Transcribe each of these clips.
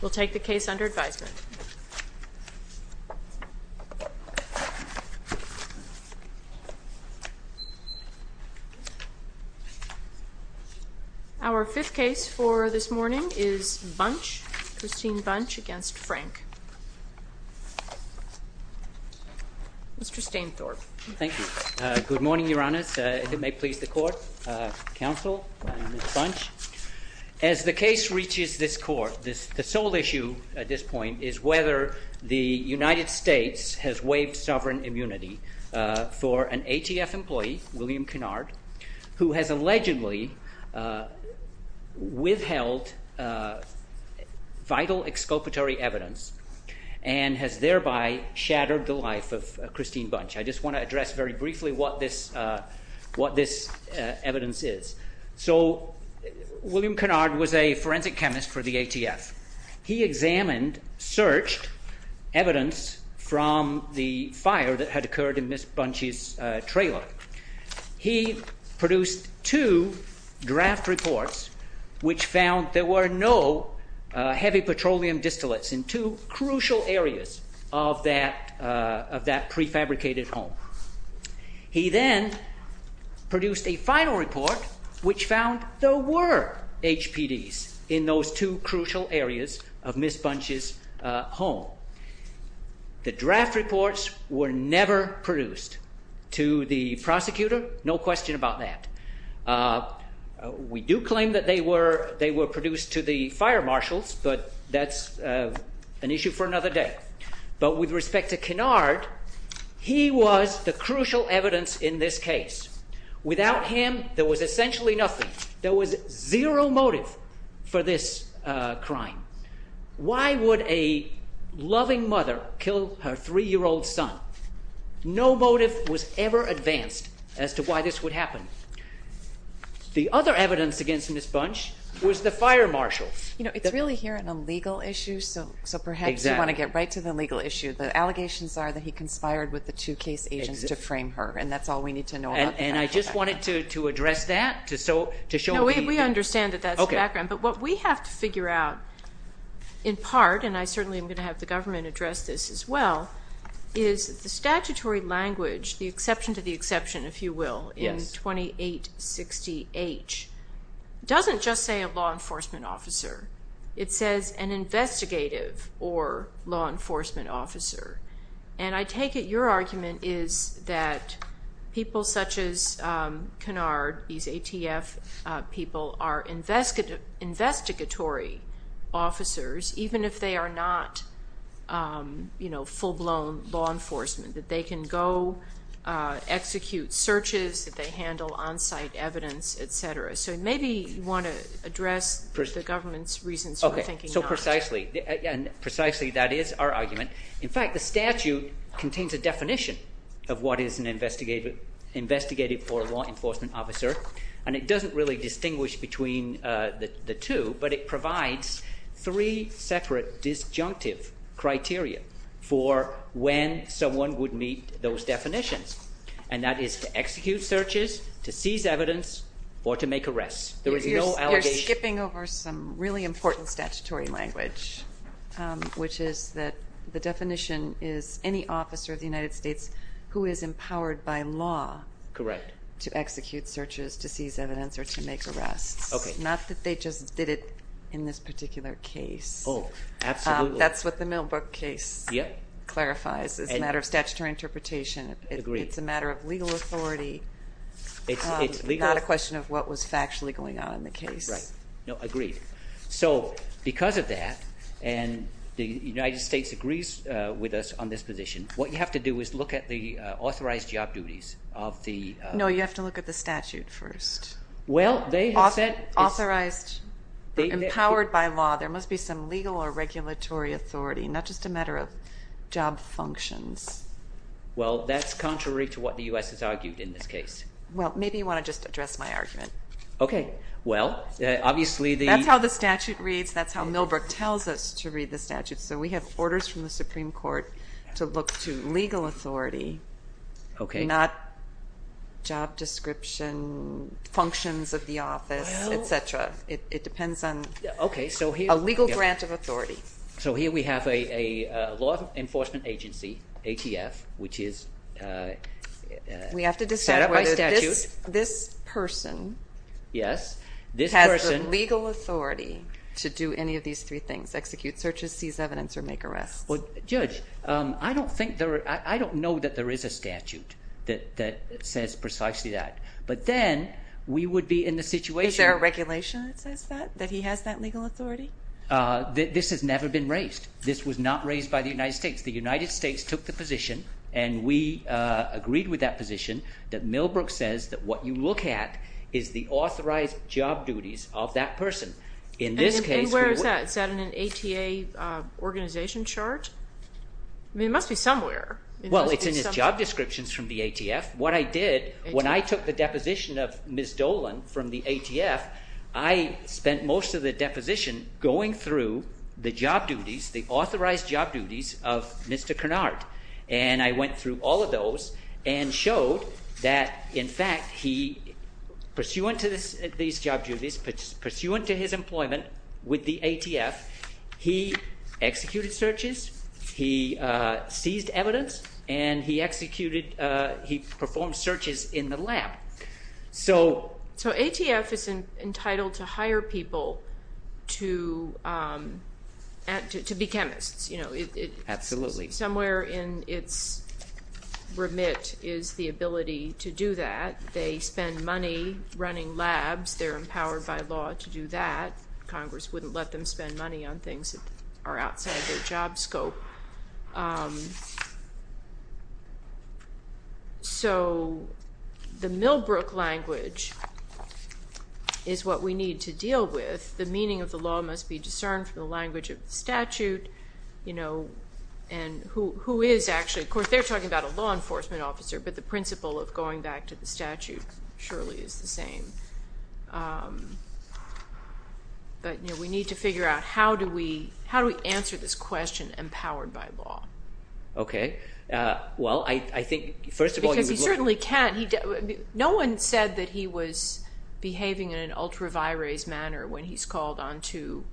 We'll take the case under advisement. Our fifth case for this morning is Bunch, Christine Bunch v. Frank. Mr. Stainthorpe. Thank you. Good morning, Your Honors. If it may please the Court, Counsel, and Ms. Bunch. As the case reaches this Court, the sole issue at this point is whether the United States has waived sovereign immunity for an ATF employee, William Kennard, who has allegedly withheld vital exculpatory evidence and has thereby shattered the life of Christine Bunch. I just want to address very briefly what this evidence is. So, William Kennard was a forensic chemist for the ATF. He examined, searched evidence from the fire that had occurred in Ms. Bunch's trailer. He produced two draft reports which found there were no heavy petroleum distillates in two crucial areas of that prefabricated home. He then produced a final report which found there were HPDs in those two crucial areas of Ms. Bunch's home. The draft reports were never produced to the prosecutor. No question about that. We do claim that they were produced to the fire marshals, but that's an issue for another day. But with respect to Kennard, he was the crucial evidence in this case. Without him, there was essentially nothing. There was zero motive for this crime. Why would a loving mother kill her three-year-old son? No motive was ever advanced as to why this would happen. The other evidence against Ms. Bunch was the fire marshal. You know, it's really here in a legal issue, so perhaps you want to get right to the legal issue. The allegations are that he conspired with the two case agents to frame her, and that's all we need to know about that. And I just wanted to address that to show people. No, we understand that that's the background. But what we have to figure out, in part, and I certainly am going to have the government address this as well, is the statutory language, the exception to the exception, if you will, in 2860H, doesn't just say a law enforcement officer. It says an investigative or law enforcement officer. And I take it your argument is that people such as Kennard, these ATF people, are investigatory officers even if they are not, you know, full-blown law enforcement, that they can go execute searches, that they handle on-site evidence, et cetera. So maybe you want to address the government's reasons for thinking not. Okay, so precisely, and precisely that is our argument. In fact, the statute contains a definition of what is an investigative or law enforcement officer, and it doesn't really distinguish between the two, but it provides three separate disjunctive criteria for when someone would meet those definitions, and that is to execute searches, to seize evidence, or to make arrests. There is no allegation. You're skipping over some really important statutory language, which is that the definition is any officer of the United States who is empowered by law to execute searches to seize evidence or to make arrests, not that they just did it in this particular case. Oh, absolutely. That's what the Milbrook case clarifies as a matter of statutory interpretation. It's a matter of legal authority, not a question of what was factually going on in the case. Right. Agreed. So because of that, and the United States agrees with us on this position, what you have to do is look at the authorized job duties of the— Well, they have said— Authorized, empowered by law. There must be some legal or regulatory authority, not just a matter of job functions. Well, that's contrary to what the U.S. has argued in this case. Well, maybe you want to just address my argument. Okay. Well, obviously the— That's how the statute reads. That's how Milbrook tells us to read the statute. So we have orders from the Supreme Court to look to legal authority, not job description, functions of the office, et cetera. It depends on a legal grant of authority. So here we have a law enforcement agency, ATF, which is set up by statute. We have to decide whether this person— Yes, this person— Well, Judge, I don't think there—I don't know that there is a statute that says precisely that. But then we would be in the situation— Is there a regulation that says that, that he has that legal authority? This has never been raised. This was not raised by the United States. The United States took the position, and we agreed with that position, that Milbrook says that what you look at is the authorized job duties of that person. In this case— And where is that? Is that in an ATA organization chart? I mean, it must be somewhere. Well, it's in his job descriptions from the ATF. What I did when I took the deposition of Ms. Dolan from the ATF, I spent most of the deposition going through the job duties, the authorized job duties of Mr. Cunard. And I went through all of those and showed that, in fact, he, pursuant to these job duties, pursuant to his employment with the ATF, he executed searches, he seized evidence, and he executed—he performed searches in the lab. So— So ATF is entitled to hire people to be chemists. Absolutely. Somewhere in its remit is the ability to do that. They spend money running labs. They're empowered by law to do that. Congress wouldn't let them spend money on things that are outside their job scope. So the Milbrook language is what we need to deal with. The meaning of the law must be discerned from the language of the statute, you know, and who is actually—of course, they're talking about a law enforcement officer, but the principle of going back to the statute surely is the same. But, you know, we need to figure out how do we answer this question empowered by law. Okay. Well, I think, first of all— Because he certainly can. No one said that he was behaving in an ultra-vires manner when he's called on to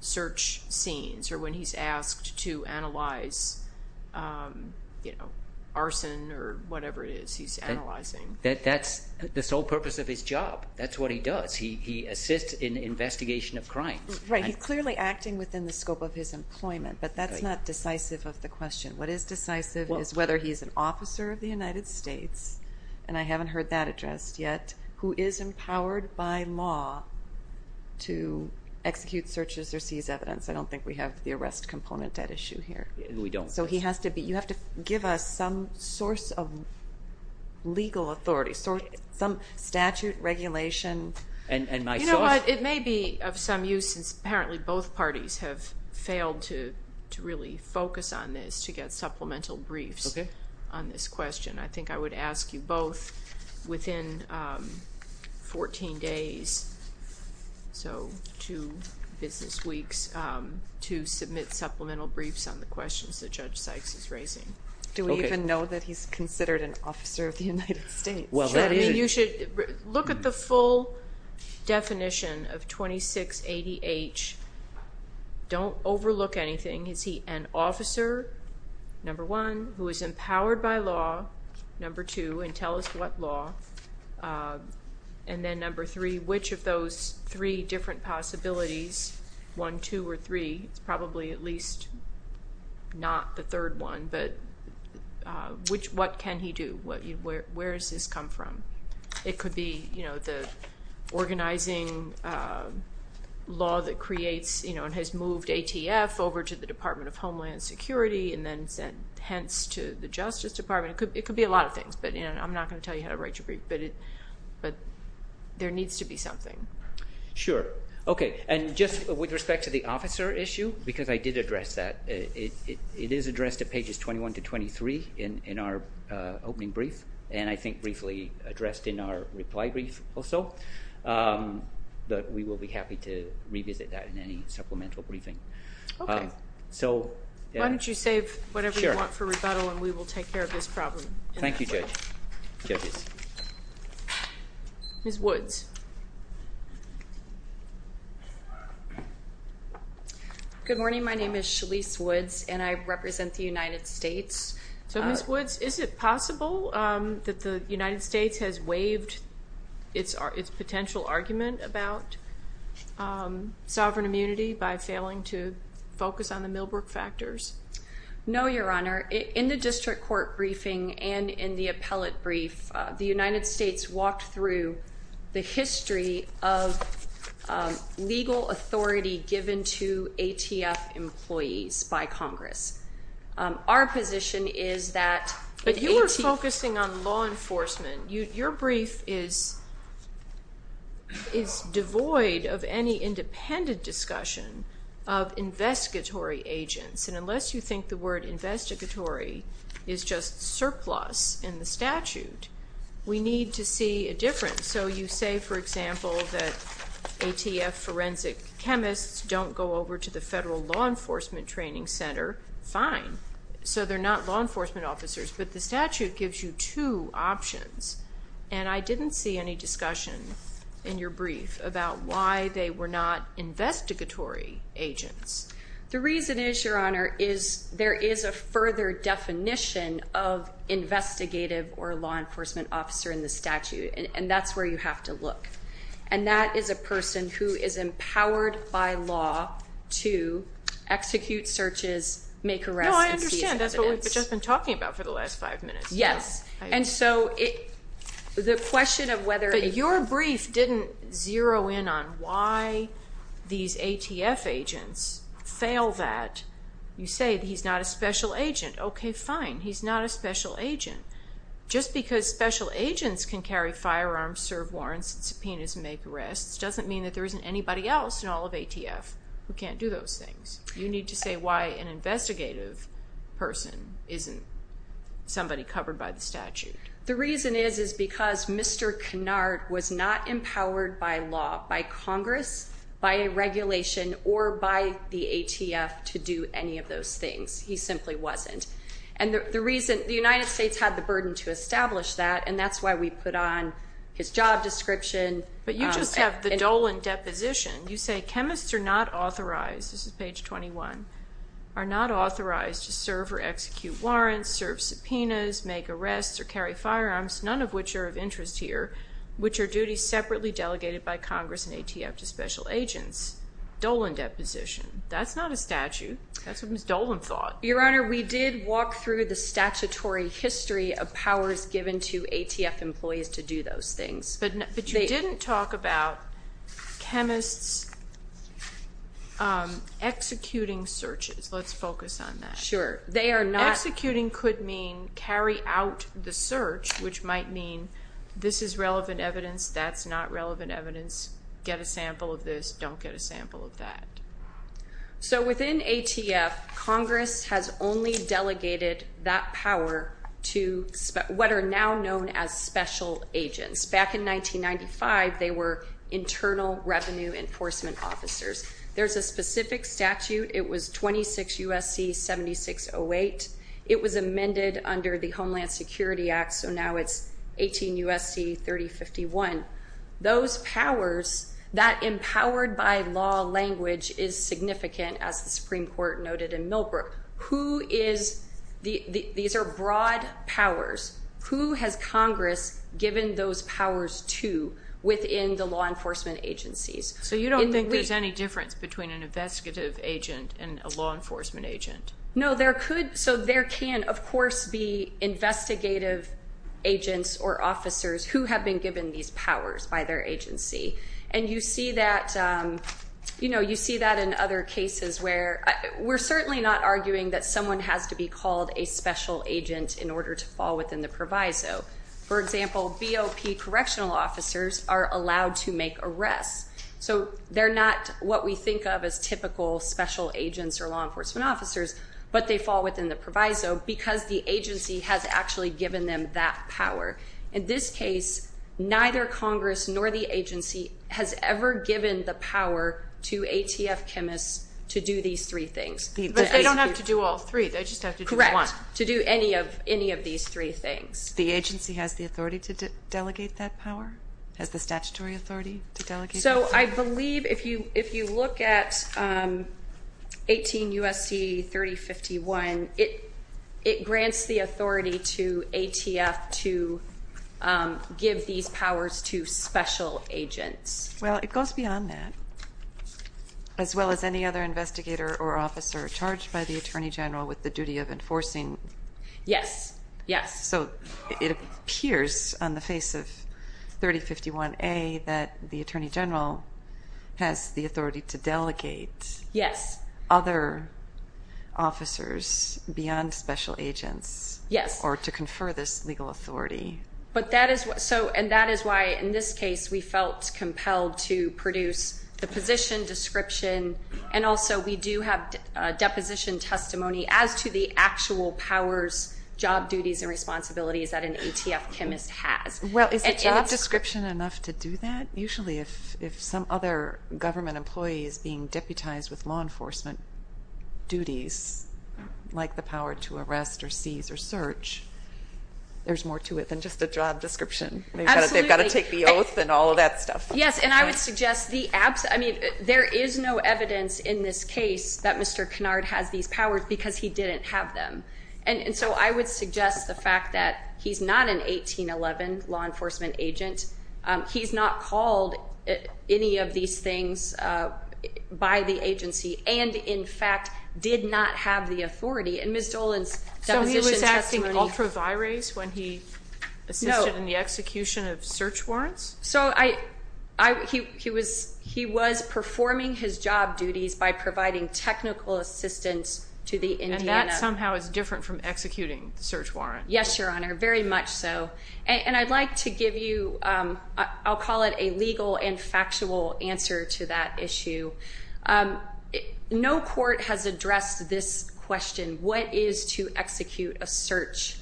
search scenes or when he's asked to analyze, you know, arson or whatever it is he's analyzing. That's the sole purpose of his job. That's what he does. He assists in the investigation of crimes. Right. He's clearly acting within the scope of his employment, but that's not decisive of the question. What is decisive is whether he's an officer of the United States, and I haven't heard that addressed yet, who is empowered by law to execute searches or seize evidence. I don't think we have the arrest component at issue here. We don't. So he has to be—you have to give us some source of legal authority, some statute, regulation. You know what? It may be of some use since apparently both parties have failed to really focus on this to get supplemental briefs on this question. I think I would ask you both within 14 days, so two business weeks, to submit supplemental briefs on the questions that Judge Sykes is raising. Do we even know that he's considered an officer of the United States? You should look at the full definition of 2680H. Don't overlook anything. Is he an officer, number one, who is empowered by law, number two, and tell us what law, and then number three, which of those three different possibilities, one, two, or three, it's probably at least not the third one, but what can he do? Where does this come from? It could be the organizing law that creates and has moved ATF over to the Department of Homeland Security and then sent hence to the Justice Department. It could be a lot of things, but I'm not going to tell you how to write your brief, but there needs to be something. Sure. Okay, and just with respect to the officer issue, because I did address that, it is addressed at pages 21 to 23 in our opening brief and I think briefly addressed in our reply brief also, but we will be happy to revisit that in any supplemental briefing. Okay. Why don't you save whatever you want for rebuttal and we will take care of this problem. Thank you, judges. Ms. Woods. Good morning. My name is Shalise Woods and I represent the United States. So, Ms. Woods, is it possible that the United States has waived its potential argument about sovereign immunity by failing to focus on the Milbrook factors? No, Your Honor. In the district court briefing and in the appellate brief, the United States walked through the history of legal authority given to ATF employees by Congress. Our position is that the ATF. But you were focusing on law enforcement. Your brief is devoid of any independent discussion of investigatory agents, and unless you think the word investigatory is just surplus in the statute, we need to see a difference. So you say, for example, that ATF forensic chemists don't go over to the federal law enforcement training center. Fine. So they're not law enforcement officers, but the statute gives you two options, and I didn't see any discussion in your brief about why they were not investigatory agents. The reason is, Your Honor, is there is a further definition of investigative or law enforcement officer in the statute, and that's where you have to look. And that is a person who is empowered by law to execute searches, make arrests. No, I understand. That's what we've just been talking about for the last five minutes. Yes. But your brief didn't zero in on why these ATF agents fail that. You say he's not a special agent. Okay, fine. He's not a special agent. Just because special agents can carry firearms, serve warrants, subpoenas, and make arrests doesn't mean that there isn't anybody else in all of ATF who can't do those things. You need to say why an investigative person isn't somebody covered by the statute. The reason is is because Mr. Canard was not empowered by law, by Congress, by a regulation, or by the ATF to do any of those things. He simply wasn't. And the reason the United States had the burden to establish that, and that's why we put on his job description. But you just have the Dolan deposition. You say chemists are not authorized. This is page 21. Are not authorized to serve or execute warrants, serve subpoenas, make arrests, or carry firearms, none of which are of interest here, which are duties separately delegated by Congress and ATF to special agents. Dolan deposition. That's not a statute. That's what Ms. Dolan thought. Your Honor, we did walk through the statutory history of powers given to ATF employees to do those things. But you didn't talk about chemists executing searches. Let's focus on that. Sure. They are not. Executing could mean carry out the search, which might mean this is relevant evidence, that's not relevant evidence, get a sample of this, don't get a sample of that. So within ATF, Congress has only delegated that power to what are now known as special agents. Back in 1995, they were internal revenue enforcement officers. There's a specific statute. It was 26 U.S.C. 7608. It was amended under the Homeland Security Act, so now it's 18 U.S.C. 3051. Those powers, that empowered by law language is significant, as the Supreme Court noted in Millbrook. Who is the, these are broad powers. Who has Congress given those powers to within the law enforcement agencies? So you don't think there's any difference between an investigative agent and a law enforcement agent? No, there could. So there can, of course, be investigative agents or officers who have been given these powers by their agency. And you see that in other cases where we're certainly not arguing that someone has to be called a special agent in order to fall within the proviso. For example, BOP correctional officers are allowed to make arrests. So they're not what we think of as typical special agents or law enforcement officers, but they fall within the proviso because the agency has actually given them that power. In this case, neither Congress nor the agency has ever given the power to ATF chemists to do these three things. But they don't have to do all three. They just have to do one. Not to do any of these three things. The agency has the authority to delegate that power? Has the statutory authority to delegate that power? So I believe if you look at 18 U.S.C. 3051, it grants the authority to ATF to give these powers to special agents. Well, it goes beyond that. As well as any other investigator or officer charged by the Attorney General with the duty of enforcing? Yes. Yes. So it appears on the face of 3051A that the Attorney General has the authority to delegate other officers beyond special agents? Yes. Or to confer this legal authority? And that is why, in this case, we felt compelled to produce the position, description, and also we do have deposition testimony as to the actual powers, job duties, and responsibilities that an ATF chemist has. Well, is a job description enough to do that? Usually if some other government employee is being deputized with law enforcement duties, like the power to arrest or seize or search, there's more to it than just a job description. Absolutely. They've got to take the oath and all of that stuff. Yes, and I would suggest the absence, I mean, there is no evidence in this case that Mr. Kennard has these powers because he didn't have them. And so I would suggest the fact that he's not an 1811 law enforcement agent. He's not called any of these things by the agency and, in fact, did not have the authority. And Ms. Dolan's deposition testimony. So he was acting ultravirates when he assisted in the execution of search warrants? So he was performing his job duties by providing technical assistance to the Indiana. And that somehow is different from executing the search warrant. Yes, Your Honor, very much so. And I'd like to give you, I'll call it a legal and factual answer to that issue. No court has addressed this question, what is to execute a search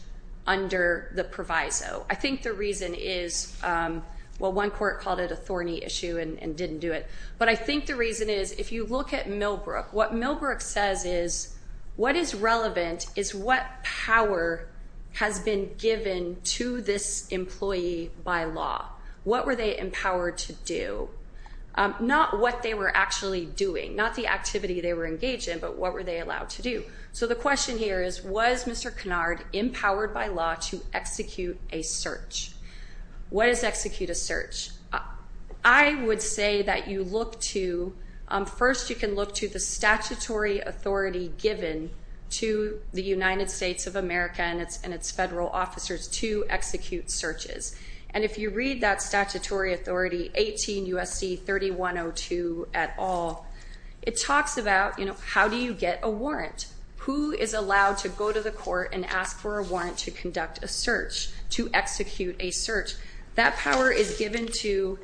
under the proviso? I think the reason is, well, one court called it a thorny issue and didn't do it. But I think the reason is, if you look at Millbrook, what Millbrook says is, what is relevant is what power has been given to this employee by law. What were they empowered to do? Not what they were actually doing, not the activity they were engaged in, but what were they allowed to do? So the question here is, was Mr. Kennard empowered by law to execute a search? What is execute a search? I would say that you look to, first you can look to the statutory authority given to the United States of America and its federal officers to execute searches. And if you read that statutory authority, 18 U.S.C. 3102 et al., it talks about, you know, how do you get a warrant? Who is allowed to go to the court and ask for a warrant to conduct a search, to execute a search? That power is given to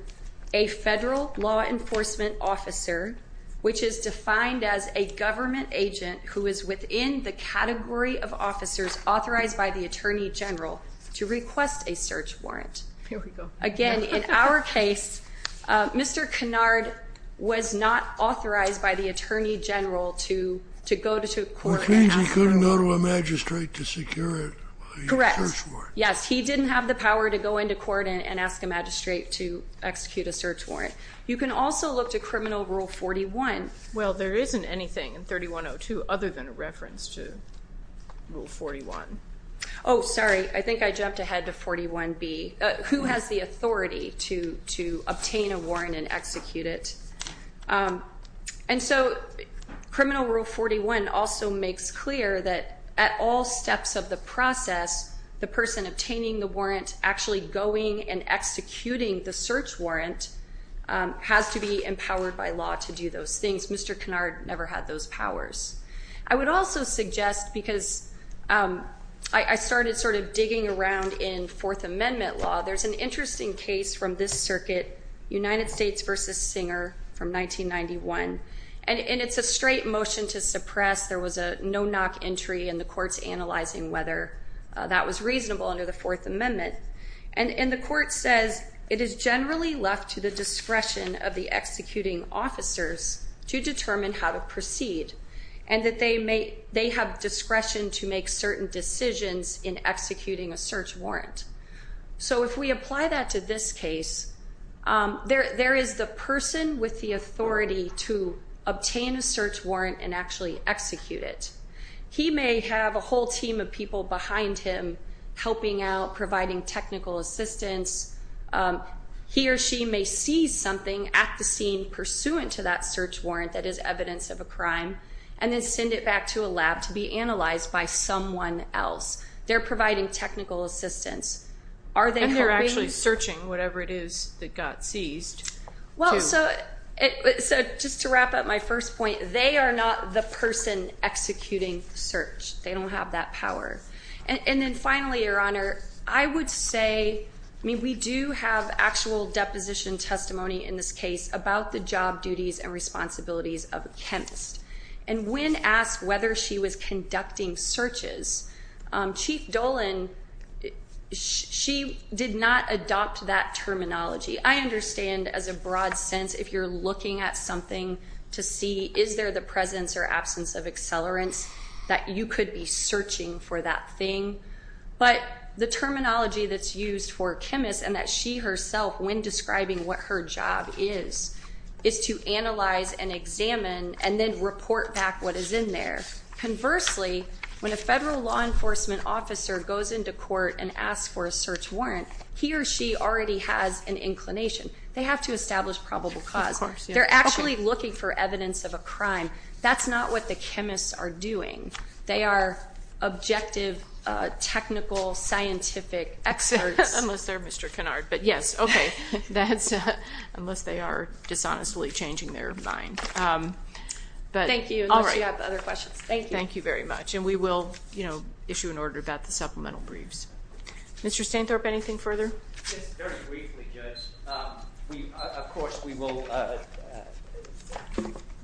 a federal law enforcement officer, which is defined as a government agent who is within the category of officers authorized by the attorney general to request a search warrant. Here we go. Again, in our case, Mr. Kennard was not authorized by the attorney general to go to court. Which means he couldn't go to a magistrate to secure a search warrant. Correct. Yes, he didn't have the power to go into court and ask a magistrate to execute a search warrant. You can also look to Criminal Rule 41. Well, there isn't anything in 3102 other than a reference to Rule 41. Oh, sorry. I think I jumped ahead to 41B. Who has the authority to obtain a warrant and execute it? And so Criminal Rule 41 also makes clear that at all steps of the process, the person obtaining the warrant actually going and executing the search warrant has to be empowered by law to do those things. Mr. Kennard never had those powers. I would also suggest, because I started sort of digging around in Fourth Amendment law, there's an interesting case from this circuit, United States v. Singer from 1991. And it's a straight motion to suppress. There was a no-knock entry in the courts analyzing whether that was reasonable under the Fourth Amendment. And the court says it is generally left to the discretion of the executing officers to determine how to proceed. And that they have discretion to make certain decisions in executing a search warrant. So if we apply that to this case, there is the person with the authority to obtain a search warrant and actually execute it. He may have a whole team of people behind him helping out, providing technical assistance. He or she may see something at the scene pursuant to that search warrant that is evidence of a crime and then send it back to a lab to be analyzed by someone else. They're providing technical assistance. And they're actually searching whatever it is that got seized. Well, so just to wrap up my first point, they are not the person executing the search. They don't have that power. And then finally, Your Honor, I would say we do have actual deposition testimony in this case about the job duties and responsibilities of a chemist. And when asked whether she was conducting searches, Chief Dolan, she did not adopt that terminology. I understand as a broad sense if you're looking at something to see is there the presence or absence of accelerants that you could be searching for that thing. But the terminology that's used for chemists and that she herself, when describing what her job is, is to analyze and examine and then report back what is in there. Conversely, when a federal law enforcement officer goes into court and asks for a search warrant, he or she already has an inclination. They have to establish probable cause. They're actually looking for evidence of a crime. That's not what the chemists are doing. They are objective, technical, scientific experts. Unless they're Mr. Kennard. But, yes, okay. Unless they are dishonestly changing their mind. Thank you. Unless you have other questions. Thank you. Thank you very much. And we will issue an order about the supplemental briefs. Mr. Stainthorpe, anything further? Just very briefly, Judge. Of course, we will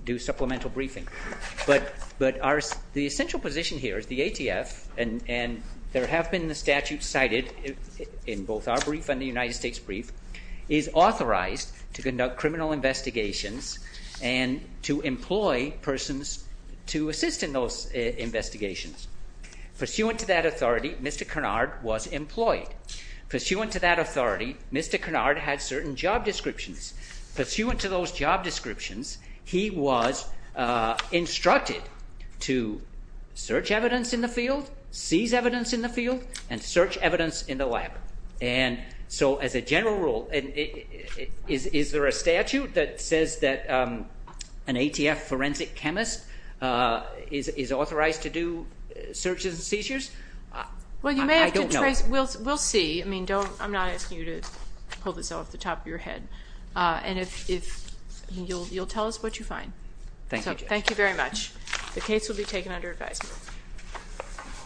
do supplemental briefing. But the essential position here is the ATF, and there have been the statutes cited in both our brief and the United States brief, is authorized to conduct criminal investigations and to employ persons to assist in those investigations. Pursuant to that authority, Mr. Kennard was employed. Pursuant to that authority, Mr. Kennard had certain job descriptions. Pursuant to those job descriptions, he was instructed to search evidence in the field, seize evidence in the field, and search evidence in the lab. And so, as a general rule, is there a statute that says that an ATF forensic chemist is authorized to do searches and seizures? I don't know. Well, you may have to trace. We'll see. I mean, I'm not asking you to pull this off the top of your head. And you'll tell us what you find. Thank you, Judge. Thank you very much. The case will be taken under advisement.